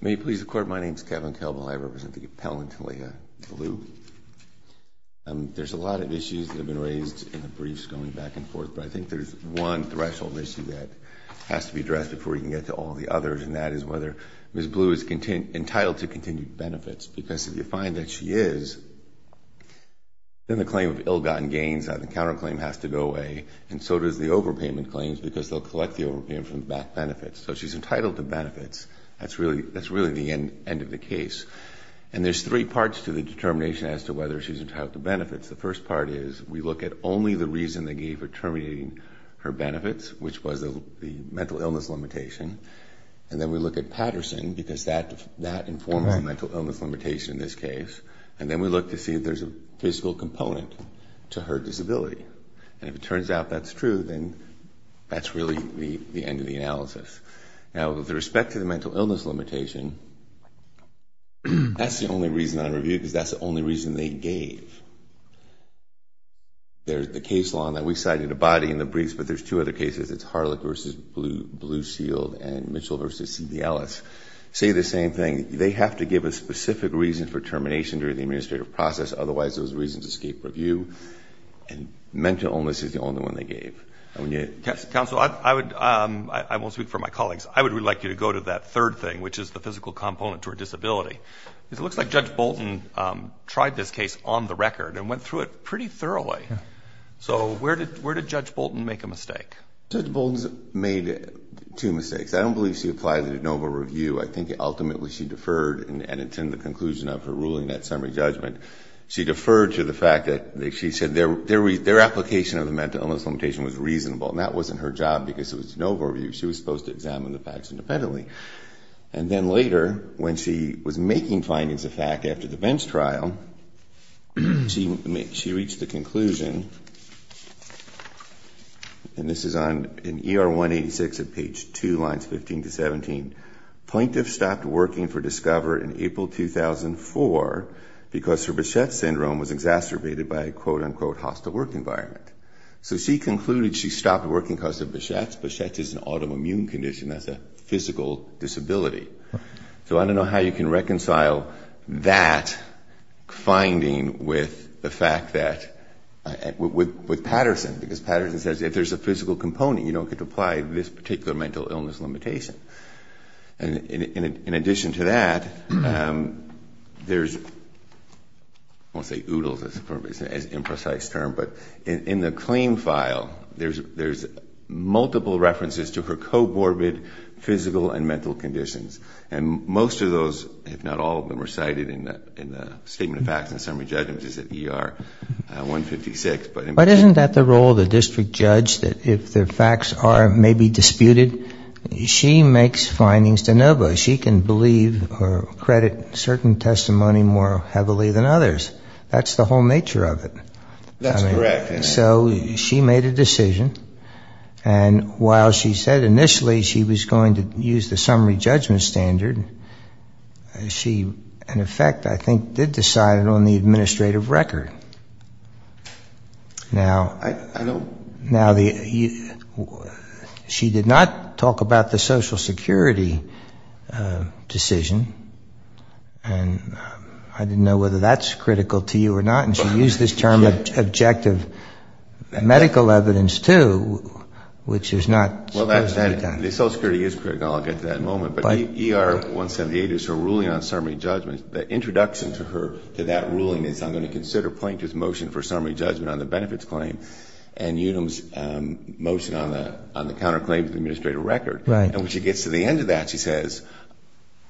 May it please the Court, my name is Kevin Kelvill, I represent the Appellant, Talia Bilyeu. There s a lot of issues that have been raised in the briefs going back and forth, but I think there s one threshold issue that has to be addressed before we can get to all the others, and that is whether Ms. Bilyeu is entitled to continued benefits, because if you find that she is, then the claim of ill-gotten gains on the counterclaim has to go away, and so does the overpayment claims, because if you find that she is, then the claim of ill-gotten gains on the counterclaim has to go away, and so does the claim of ill-gotten gains on the counterclaim has to go away. And there s three parts to the determination as to whether she is entitled to benefits. The first part is we look at only the reason they gave for terminating her benefits, which was the mental illness limitation, and then we look at Patterson, because that informed the mental illness limitation in this case, and then we look to see if there is a physical component to her disability, and if it turns out that s true, then that s really the end of the analysis. Now, with respect to the mental illness limitation, that s the only reason on review, because that s the only reason they gave. There s the case law in that we cited a body in the briefs, but there s two other cases. It s Harlech v. Blue Shield and Mitchell v. C. D. Ellis say the same thing. They have to give a specific reason for termination during the administrative process, otherwise those reasons escape review, and mental illness is the only one they gave. Counsel, I won t speak for my colleagues. I would really like you to go to that third thing, which is the physical component to her disability, because it looks like Judge Bolton tried this case on the record and went through it pretty thoroughly. So where did Judge Bolton make a mistake? Judge Bolton made two mistakes. I don t believe she applied it at noble review. I think ultimately she deferred and attended the conclusion of her ruling, that summary judgment. She deferred to the fact that she said their application of the mental illness limitation was reasonable, and that wasn t her job, because it was noble review. She was supposed to examine the facts independently. And then later, when she was making findings of fact after the bench trial, she reached a conclusion, and this is in ER 186 at page 2, lines 15 to 17. Plaintiff stopped working for Discover in April 2004 because her Bichette syndrome was exacerbated by a hostile work environment. So she concluded she stopped working because of Bichette. Bichette is an autoimmune condition. That s a physical disability. So I don t know how you can reconcile that finding with the fact that with Patterson, because Patterson says if there s a physical component, you don t get to apply this particular mental illness limitation. And in addition to that, there s I won t say oodles, it s an imprecise term, but in the claim file, there s multiple references to her co-morbid physical and mental conditions. And most of those, if not all of them, are cited in the statement of facts and summary judgments at ER 156. But isn t that the role of the district judge that if the facts are maybe disputed, she makes findings de novo. She can believe or credit certain testimony more heavily than others. That s the whole nature of it. That s correct. So she made a decision, and while she said initially she was going to use the summary judgment standard, she in effect I think did decide it on the administrative record. Now, she did not talk about the Social Security decision. And I didn t know whether that s critical to you or not. And she used this term objective medical evidence too, which is not supposed to be done. The Social Security is critical. I ll get to that in a moment. But ER 178 is her ruling on summary judgment. The introduction to that ruling is I m going to consider plaintiff s motion for summary judgment on the benefits claim and Unum s motion on the counterclaim to the administrative record. Right. And when she gets to the end of that, she says,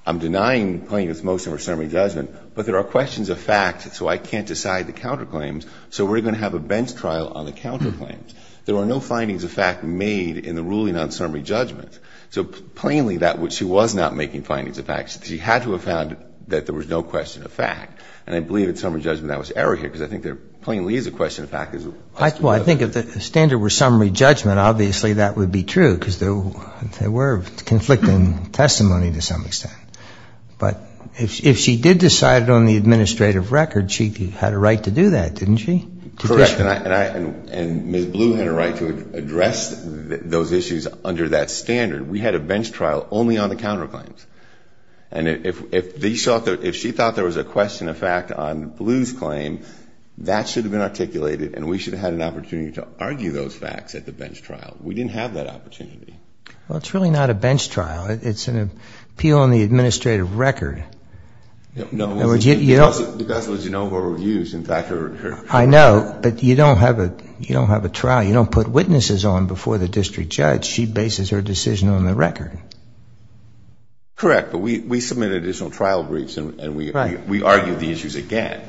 I m denying plaintiff s motion for summary judgment, but there are questions of fact, so I can t decide the counterclaims. So we re going to have a bench trial on the counterclaims. There are no findings of fact made in the ruling on summary judgment. So plainly that when she was not making findings of fact, she had to have found that there was no question of fact. And I believe in summary judgment that was error here because I think there plainly is a question of fact. Well, I think if the standard were summary judgment, obviously that would be true because there were conflicting testimony to some extent. But if she did decide it on the administrative record, she had a right to do that, didn t she? Correct. And Ms. Blue had a right to address those issues under that standard. We had a bench trial only on the counterclaims. And if she thought there was a question of fact on Blue s claim, that should have been articulated and we should have had an opportunity to argue those facts at the bench trial. We didn t have that opportunity. Well, it s really not a bench trial. It s an appeal on the administrative record. No. Because you know her views. I know. But you don t have a trial. You don t put witnesses on before the district judge. She bases her decision on the record. Correct. But we submitted additional trial briefs and we argued the issues again.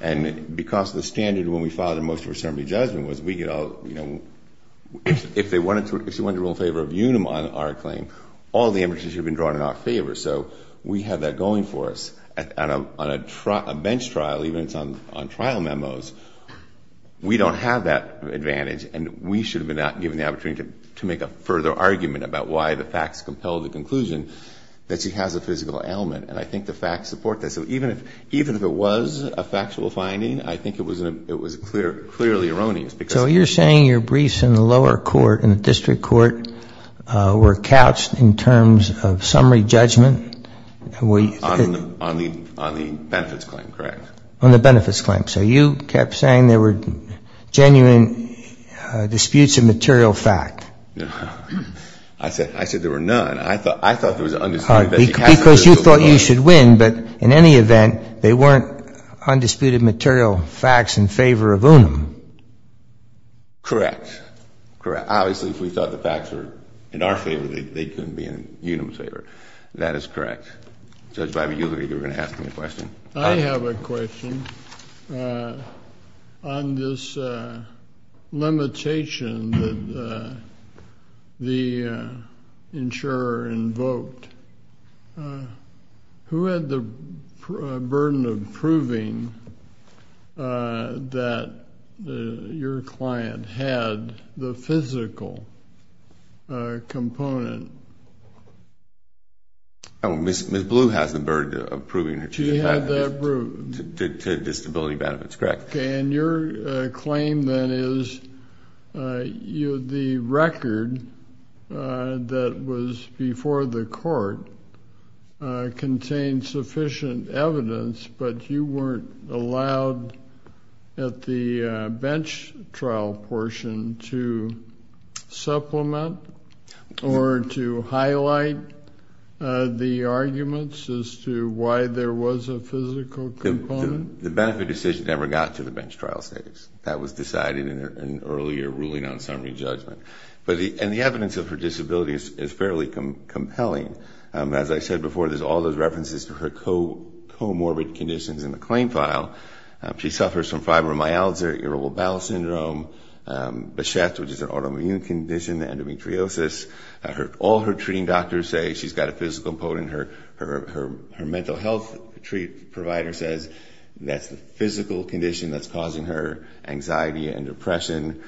And because the standard when we filed the motion for summary judgment was we could all, you know, if they wanted to if she wanted to rule in favor of Unum on our claim, all the evidence should have been drawn in our favor. So we had that going for us. On a bench trial, even if it s on trial memos, we don t have that advantage and we should have been given the opportunity to make a further argument about why the facts compelled the conclusion that she has a physical ailment. And I think the facts support that. So even if it was a factual finding, I think it was clearly erroneous. So you re saying your briefs in the lower court, in the district court, were couched in terms of summary judgment? On the benefits claim, correct. On the benefits claim. So you kept saying there were genuine disputes of material fact. I said there were none. I thought there was an undisputed fact. Because you thought you should win. But in any event, they weren t undisputed material facts in favor of Unum. Correct. Obviously, if we thought the facts were in our favor, they couldn t be in Unum s favor. That is correct. Judge Bibas, you were going to ask me a question? I have a question. On this limitation that the insurer invoked, who had the burden of proving that your client had the physical component. Ms. Blue has the burden of proving that she had that disability benefits. Correct. And your claim, then, is the record that was before the court contained sufficient evidence, but you weren t allowed at the bench trial portion to supplement or to highlight the arguments as to why there was a physical component? The benefit decision never got to the bench trial stage. That was decided in an earlier ruling on summary judgment. And the evidence of her disability is fairly compelling. As I said before, there s all those references to her comorbid conditions in the claim file. She suffers from fibromyalgia, Irritable Bowel Syndrome, BESHFT, which is an autoimmune condition, endometriosis. All her treating doctors say she s got a physical component. Her mental health provider says that s the physical condition that s causing her anxiety and depression.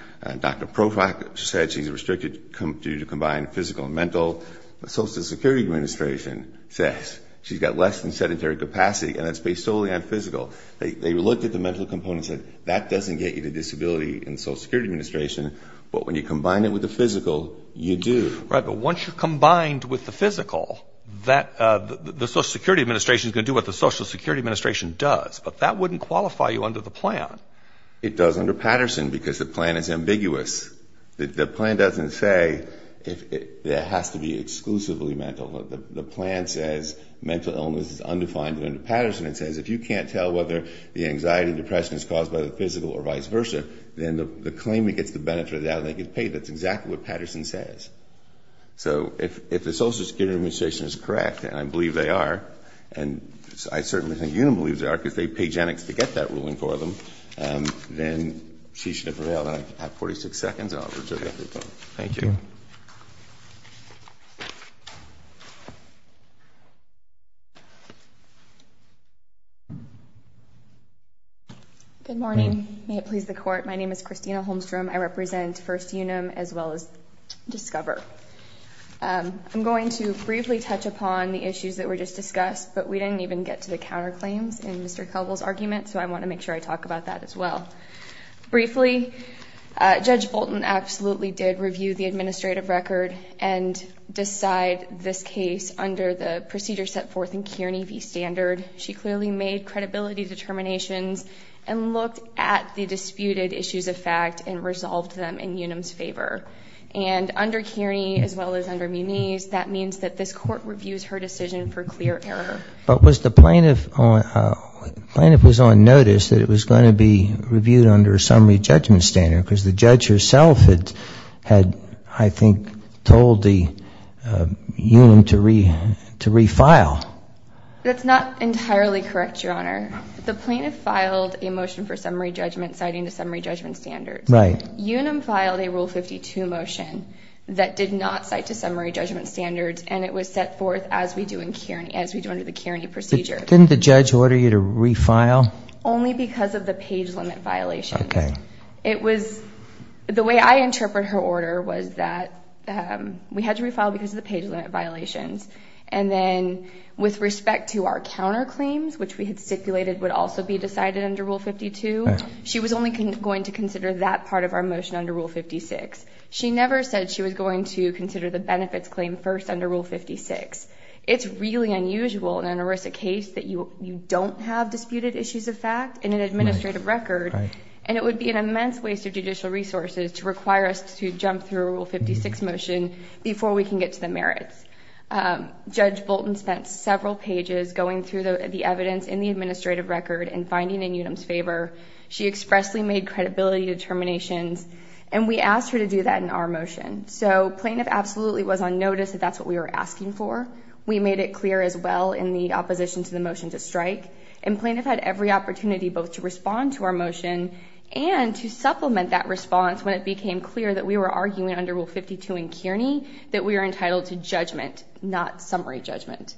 Dr. Profak said she s restricted due to combined physical and mental. The Social Security Administration says she s got less than sedentary capacity, and that s based solely on physical. They looked at the mental components and said, that doesn t get you the disability in the Social Security Administration, but when you combine it with the physical, you do. Right, but once you combine it with the physical, the Social Security Administration is going to do what the Social Security Administration does. But that wouldn t qualify you under the plan. It does under Patterson because the plan is ambiguous. The plan doesn t say there has to be exclusively mental. The plan says mental illness is undefined under Patterson. It says if you can t tell whether the anxiety and depression is caused by the physical or vice versa, then the claimant gets the benefit of the doubt, and they get paid. That s exactly what Patterson says. So if the Social Security Administration is correct, and I believe they are, and I certainly think you believe they are because they paid Janix to get that ruling for them, then she should prevail, and I have 46 seconds. Thank you. Thank you. Good morning. May it please the Court. My name is Christina Holmstrom. I represent First Unum as well as Discover. I m going to briefly touch upon the issues that were just discussed, but we didn t even get to the counterclaims in Mr. Kelgle s argument, so I want to make sure I talk about that as well. Briefly, Judge Bolton absolutely did review the administrative record and decide this case under the procedure set forth in Kearney v. Standard. She clearly made credibility determinations and looked at the disputed issues of fact and resolved them in Unum s favor. And under Kearney as well as under Muniz, that means that this Court reviews her decision for clear error. But was the plaintiff on notice that it was going to be reviewed under a summary judgment standard because the judge herself had, I think, told Unum to refile? That s not entirely correct, Your Honor. The plaintiff filed a motion for summary judgment citing the summary judgment standards. Right. Unum filed a Rule 52 motion that did not cite the summary judgment standards and it was set forth as we do under the Kearney procedure. Didn t the judge order you to refile? Only because of the page limit violations. Okay. It was the way I interpret her order was that we had to refile because of the page limit violations. And then with respect to our counterclaims, which we had stipulated would also be decided under Rule 52, she was only going to consider that part of our motion under Rule 56. She never said she was going to consider the benefits claim first under Rule 56. It s really unusual in an ERISA case that you don t have disputed issues of fact in an administrative record. Right. And it would be an immense waste of judicial resources to require us to jump through a Rule 56 motion before we can get to the merits. Judge Bolton spent several pages going through the evidence in the administrative record and finding in Unum s favor. She expressly made credibility determinations and we asked her to do that in our motion. So plaintiff absolutely was on notice that that s what we were asking for. We made it clear as well in the opposition to the motion to strike. And plaintiff had every opportunity both to respond to our motion and to supplement that response when it became clear that we were arguing under Rule 52 in Kearney that we were entitled to judgment, not summary judgment.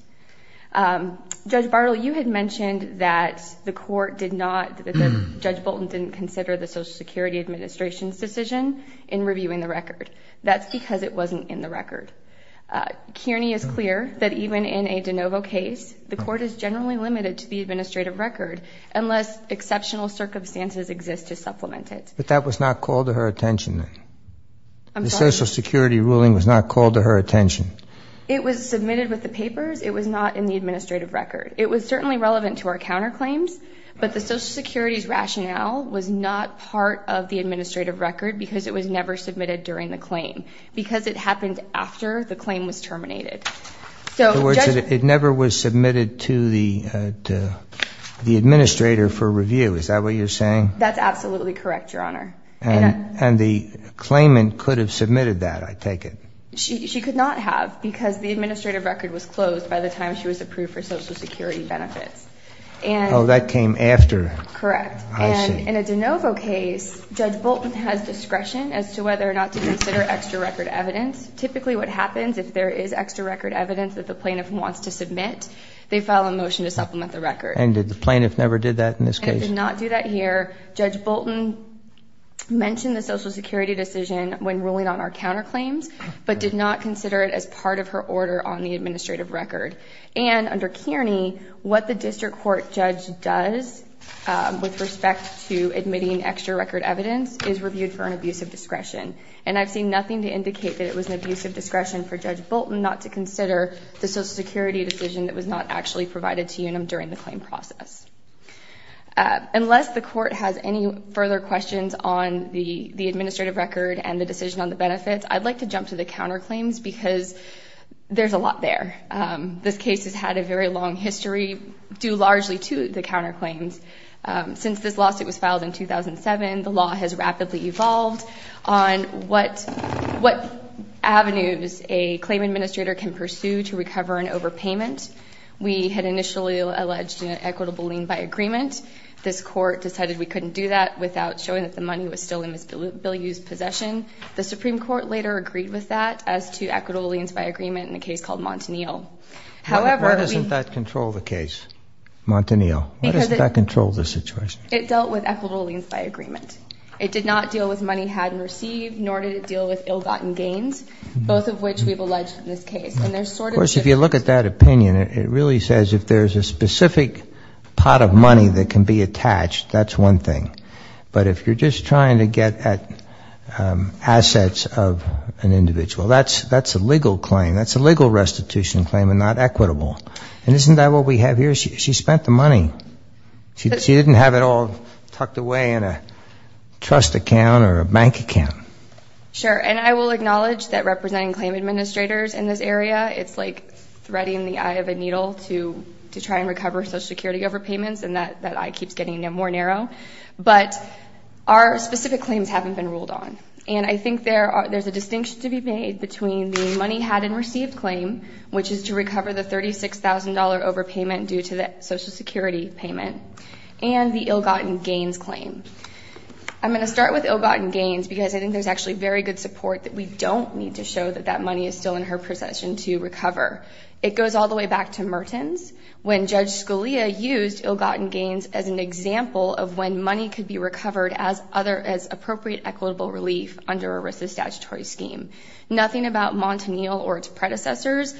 Judge Bartle, you had mentioned that the court did not that Judge Bolton didn t consider the Social Security Administration s decision in reviewing the record. That s because it wasn t in the record. Kearney is clear that even in a de novo case, the court is generally limited to the administrative record unless exceptional circumstances exist to supplement it. But that was not called to her attention then? I m sorry? The Social Security ruling was not called to her attention? It was submitted with the papers. It was not in the administrative record. It was certainly relevant to our counterclaims, but the Social Security s rationale was not part of the administrative record because it was never submitted during the claim because it happened after the claim was terminated. In other words, it never was submitted to the administrator for review. Is that what you re saying? That s absolutely correct, Your Honor. And the claimant could have submitted that, I take it? She could not have because the administrative record was closed by the time she was approved for Social Security benefits. Oh, that came after? Correct. I see. And in a de novo case, Judge Bolton has discretion as to whether or not to consider extra record evidence. Typically what happens if there is extra record evidence that the plaintiff wants to submit, they file a motion to supplement the record. And did the plaintiff never did that in this case? They did not do that here. Judge Bolton mentioned the Social Security decision when ruling on our counterclaims. But did not consider it as part of her order on the administrative record. And under Kearney, what the district court judge does with respect to admitting extra record evidence is reviewed for an abusive discretion. And I ve seen nothing to indicate that it was an abusive discretion for Judge Bolton not to consider the Social Security decision that was not actually provided to Unum during the claim process. Unless the court has any further questions on the administrative record and the decision on the benefits, I'd like to jump to the counterclaims because there's a lot there. This case has had a very long history due largely to the counterclaims. Since this lawsuit was filed in 2007, the law has rapidly evolved on what avenues a claim administrator can pursue to recover an overpayment. We had initially alleged an equitable lien by agreement. This court decided we couldn't do that without showing that the money was still in Ms. Bilyeu's possession. The Supreme Court later agreed with that as to equitable liens by agreement in a case called Montanil. Why doesn't that control the case, Montanil? Why doesn't that control the situation? It dealt with equitable liens by agreement. It did not deal with money had and received, nor did it deal with ill-gotten gains, both of which we've alleged in this case. Of course, if you look at that opinion, it really says if there's a specific pot of money that can be attached, that's one thing. But if you're just trying to get at assets of an individual, that's a legal claim. That's a legal restitution claim and not equitable. And isn't that what we have here? She spent the money. She didn't have it all tucked away in a trust account or a bank account. Sure, and I will acknowledge that representing claim administrators in this area, it's like threading the eye of a needle to try and recover Social Security overpayments and that eye keeps getting more narrow. But our specific claims haven't been ruled on. And I think there's a distinction to be made between the money had and received claim, which is to recover the $36,000 overpayment due to the Social Security payment, and the ill-gotten gains claim. I'm going to start with ill-gotten gains because I think there's actually very good support that we don't need to show that that money is still in her possession to recover. It goes all the way back to Mertens, when Judge Scalia used ill-gotten gains as an example of when money could be recovered as appropriate equitable relief under ERISA's statutory scheme. Nothing about Montanil or its predecessors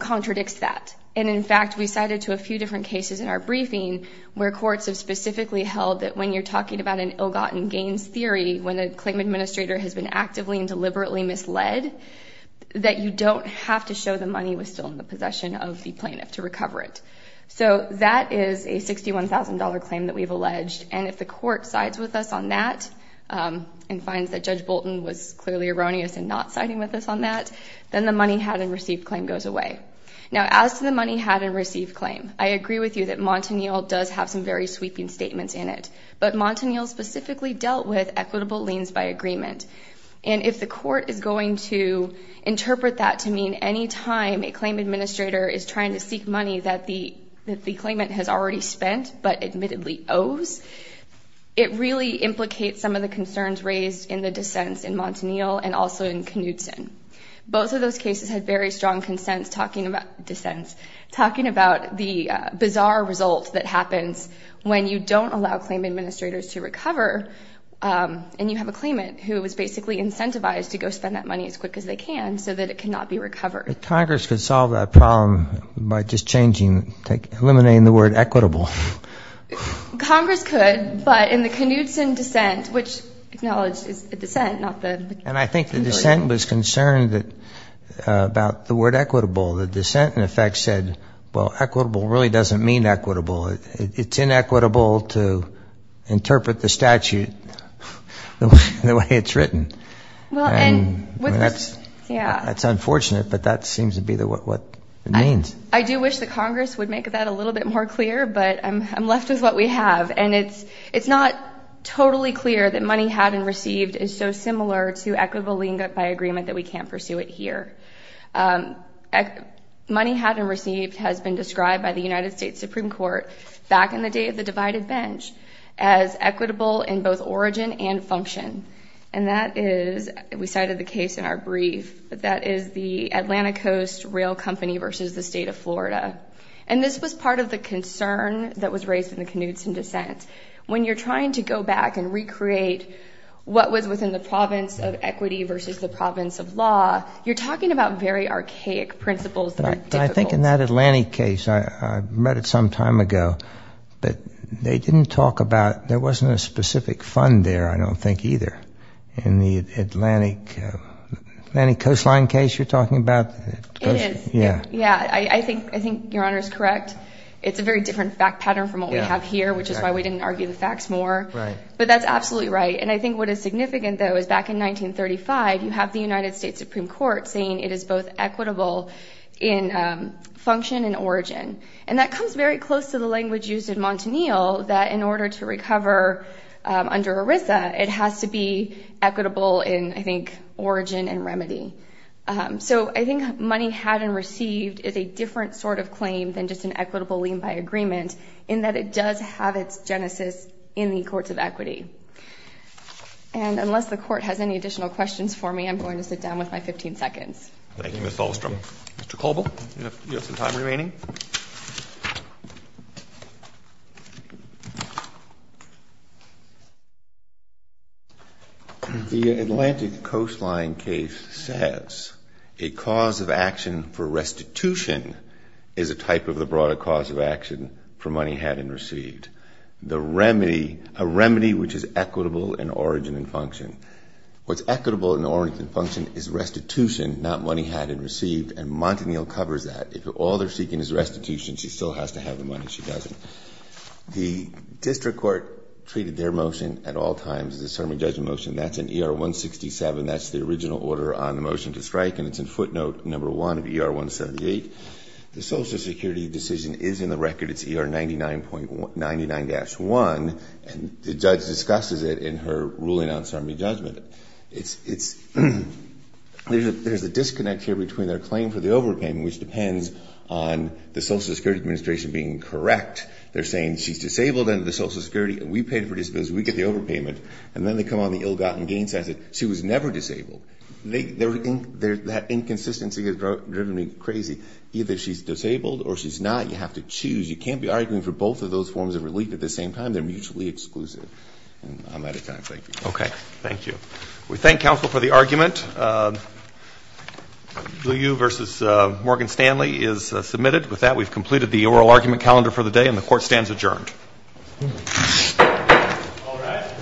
contradicts that. And, in fact, we cited to a few different cases in our briefing where courts have specifically held that when you're talking about an ill-gotten gains theory, when a claim administrator has been actively and deliberately misled, that you don't have to show the money was still in the possession of the plaintiff to recover it. So that is a $61,000 claim that we've alleged. And if the court sides with us on that and finds that Judge Bolton was clearly erroneous in not siding with us on that, then the money had and received claim goes away. Now, as to the money had and received claim, I agree with you that Montanil does have some very sweeping statements in it. But Montanil specifically dealt with equitable liens by agreement. And if the court is going to interpret that to mean any time a claim administrator is trying to seek money that the claimant has already spent but admittedly owes, it really implicates some of the concerns raised in the dissents in Montanil and also in Knudsen. Both of those cases had very strong dissents, talking about the bizarre result that happens when you don't allow claim administrators to recover and you have a claimant who is basically incentivized to go spend that money as quick as they can so that it cannot be recovered. But Congress could solve that problem by just changing, eliminating the word equitable. Congress could, but in the Knudsen dissent, which acknowledge is a dissent, not the... And I think the dissent was concerned about the word equitable. The dissent, in effect, said, well, equitable really doesn't mean equitable. It's inequitable to interpret the statute the way it's written. And that's unfortunate, but that seems to be what it means. I do wish that Congress would make that a little bit more clear, but I'm left with what we have. And it's not totally clear that money had and received is so similar to equitable lien by agreement that we can't pursue it here. Money had and received has been described by the United States Supreme Court back in the day of the divided bench as equitable in both origin and function. And that is, we cited the case in our brief, that is the Atlanta Coast Rail Company versus the state of Florida. And this was part of the concern that was raised in the Knudsen dissent. When you're trying to go back and recreate what was within the province of equity versus the province of law, you're talking about very archaic principles that are difficult. I think in that Atlantic case, I read it some time ago, but they didn't talk about, there wasn't a specific fund there, I don't think, either. In the Atlantic Coastline case you're talking about? It is. Yeah. Yeah, I think Your Honor is correct. It's a very different fact pattern from what we have here, which is why we didn't argue the facts more. Right. But that's absolutely right. And I think what is significant, though, is back in 1935, you have the United States Supreme Court saying it is both equitable in function and origin. And that comes very close to the language used in Montanil that in order to recover under ERISA, it has to be equitable in, I think, origin and remedy. So I think money had and received is a different sort of claim than just an equitable lien by agreement in that it does have its genesis in the courts of equity. And unless the Court has any additional questions for me, I'm going to sit down with my 15 seconds. Thank you, Ms. Ahlstrom. Mr. Colville, you have some time remaining. The Atlantic Coastline case says a cause of action for restitution is a type of the broader cause of action for money had and received, a remedy which is equitable in origin and function. What's equitable in origin and function is restitution, not money had and received. And Montanil covers that. If all they're seeking is restitution, she still has to have the money. She doesn't. The district court treated their motion at all times as a sermon judgment motion. That's in ER 167. That's the original order on the motion to strike. And it's in footnote number one of ER 178. The Social Security decision is in the record. It's ER 99.99-1. And the judge discusses it in her ruling on sermon judgment. There's a disconnect here between their claim for the overpayment, which depends on the Social Security Administration being correct. They're saying she's disabled under the Social Security, and we paid for disability, so we get the overpayment. And then they come on the ill-gotten gains as she was never disabled. That inconsistency has driven me crazy. Either she's disabled or she's not. You have to choose. You can't be arguing for both of those forms of relief at the same time. They're mutually exclusive. And I'm out of time. Thank you. Okay. Thank you. We thank counsel for the argument. Liu versus Morgan Stanley is submitted. With that, we've completed the oral argument calendar for the day, and the court stands adjourned. All rise.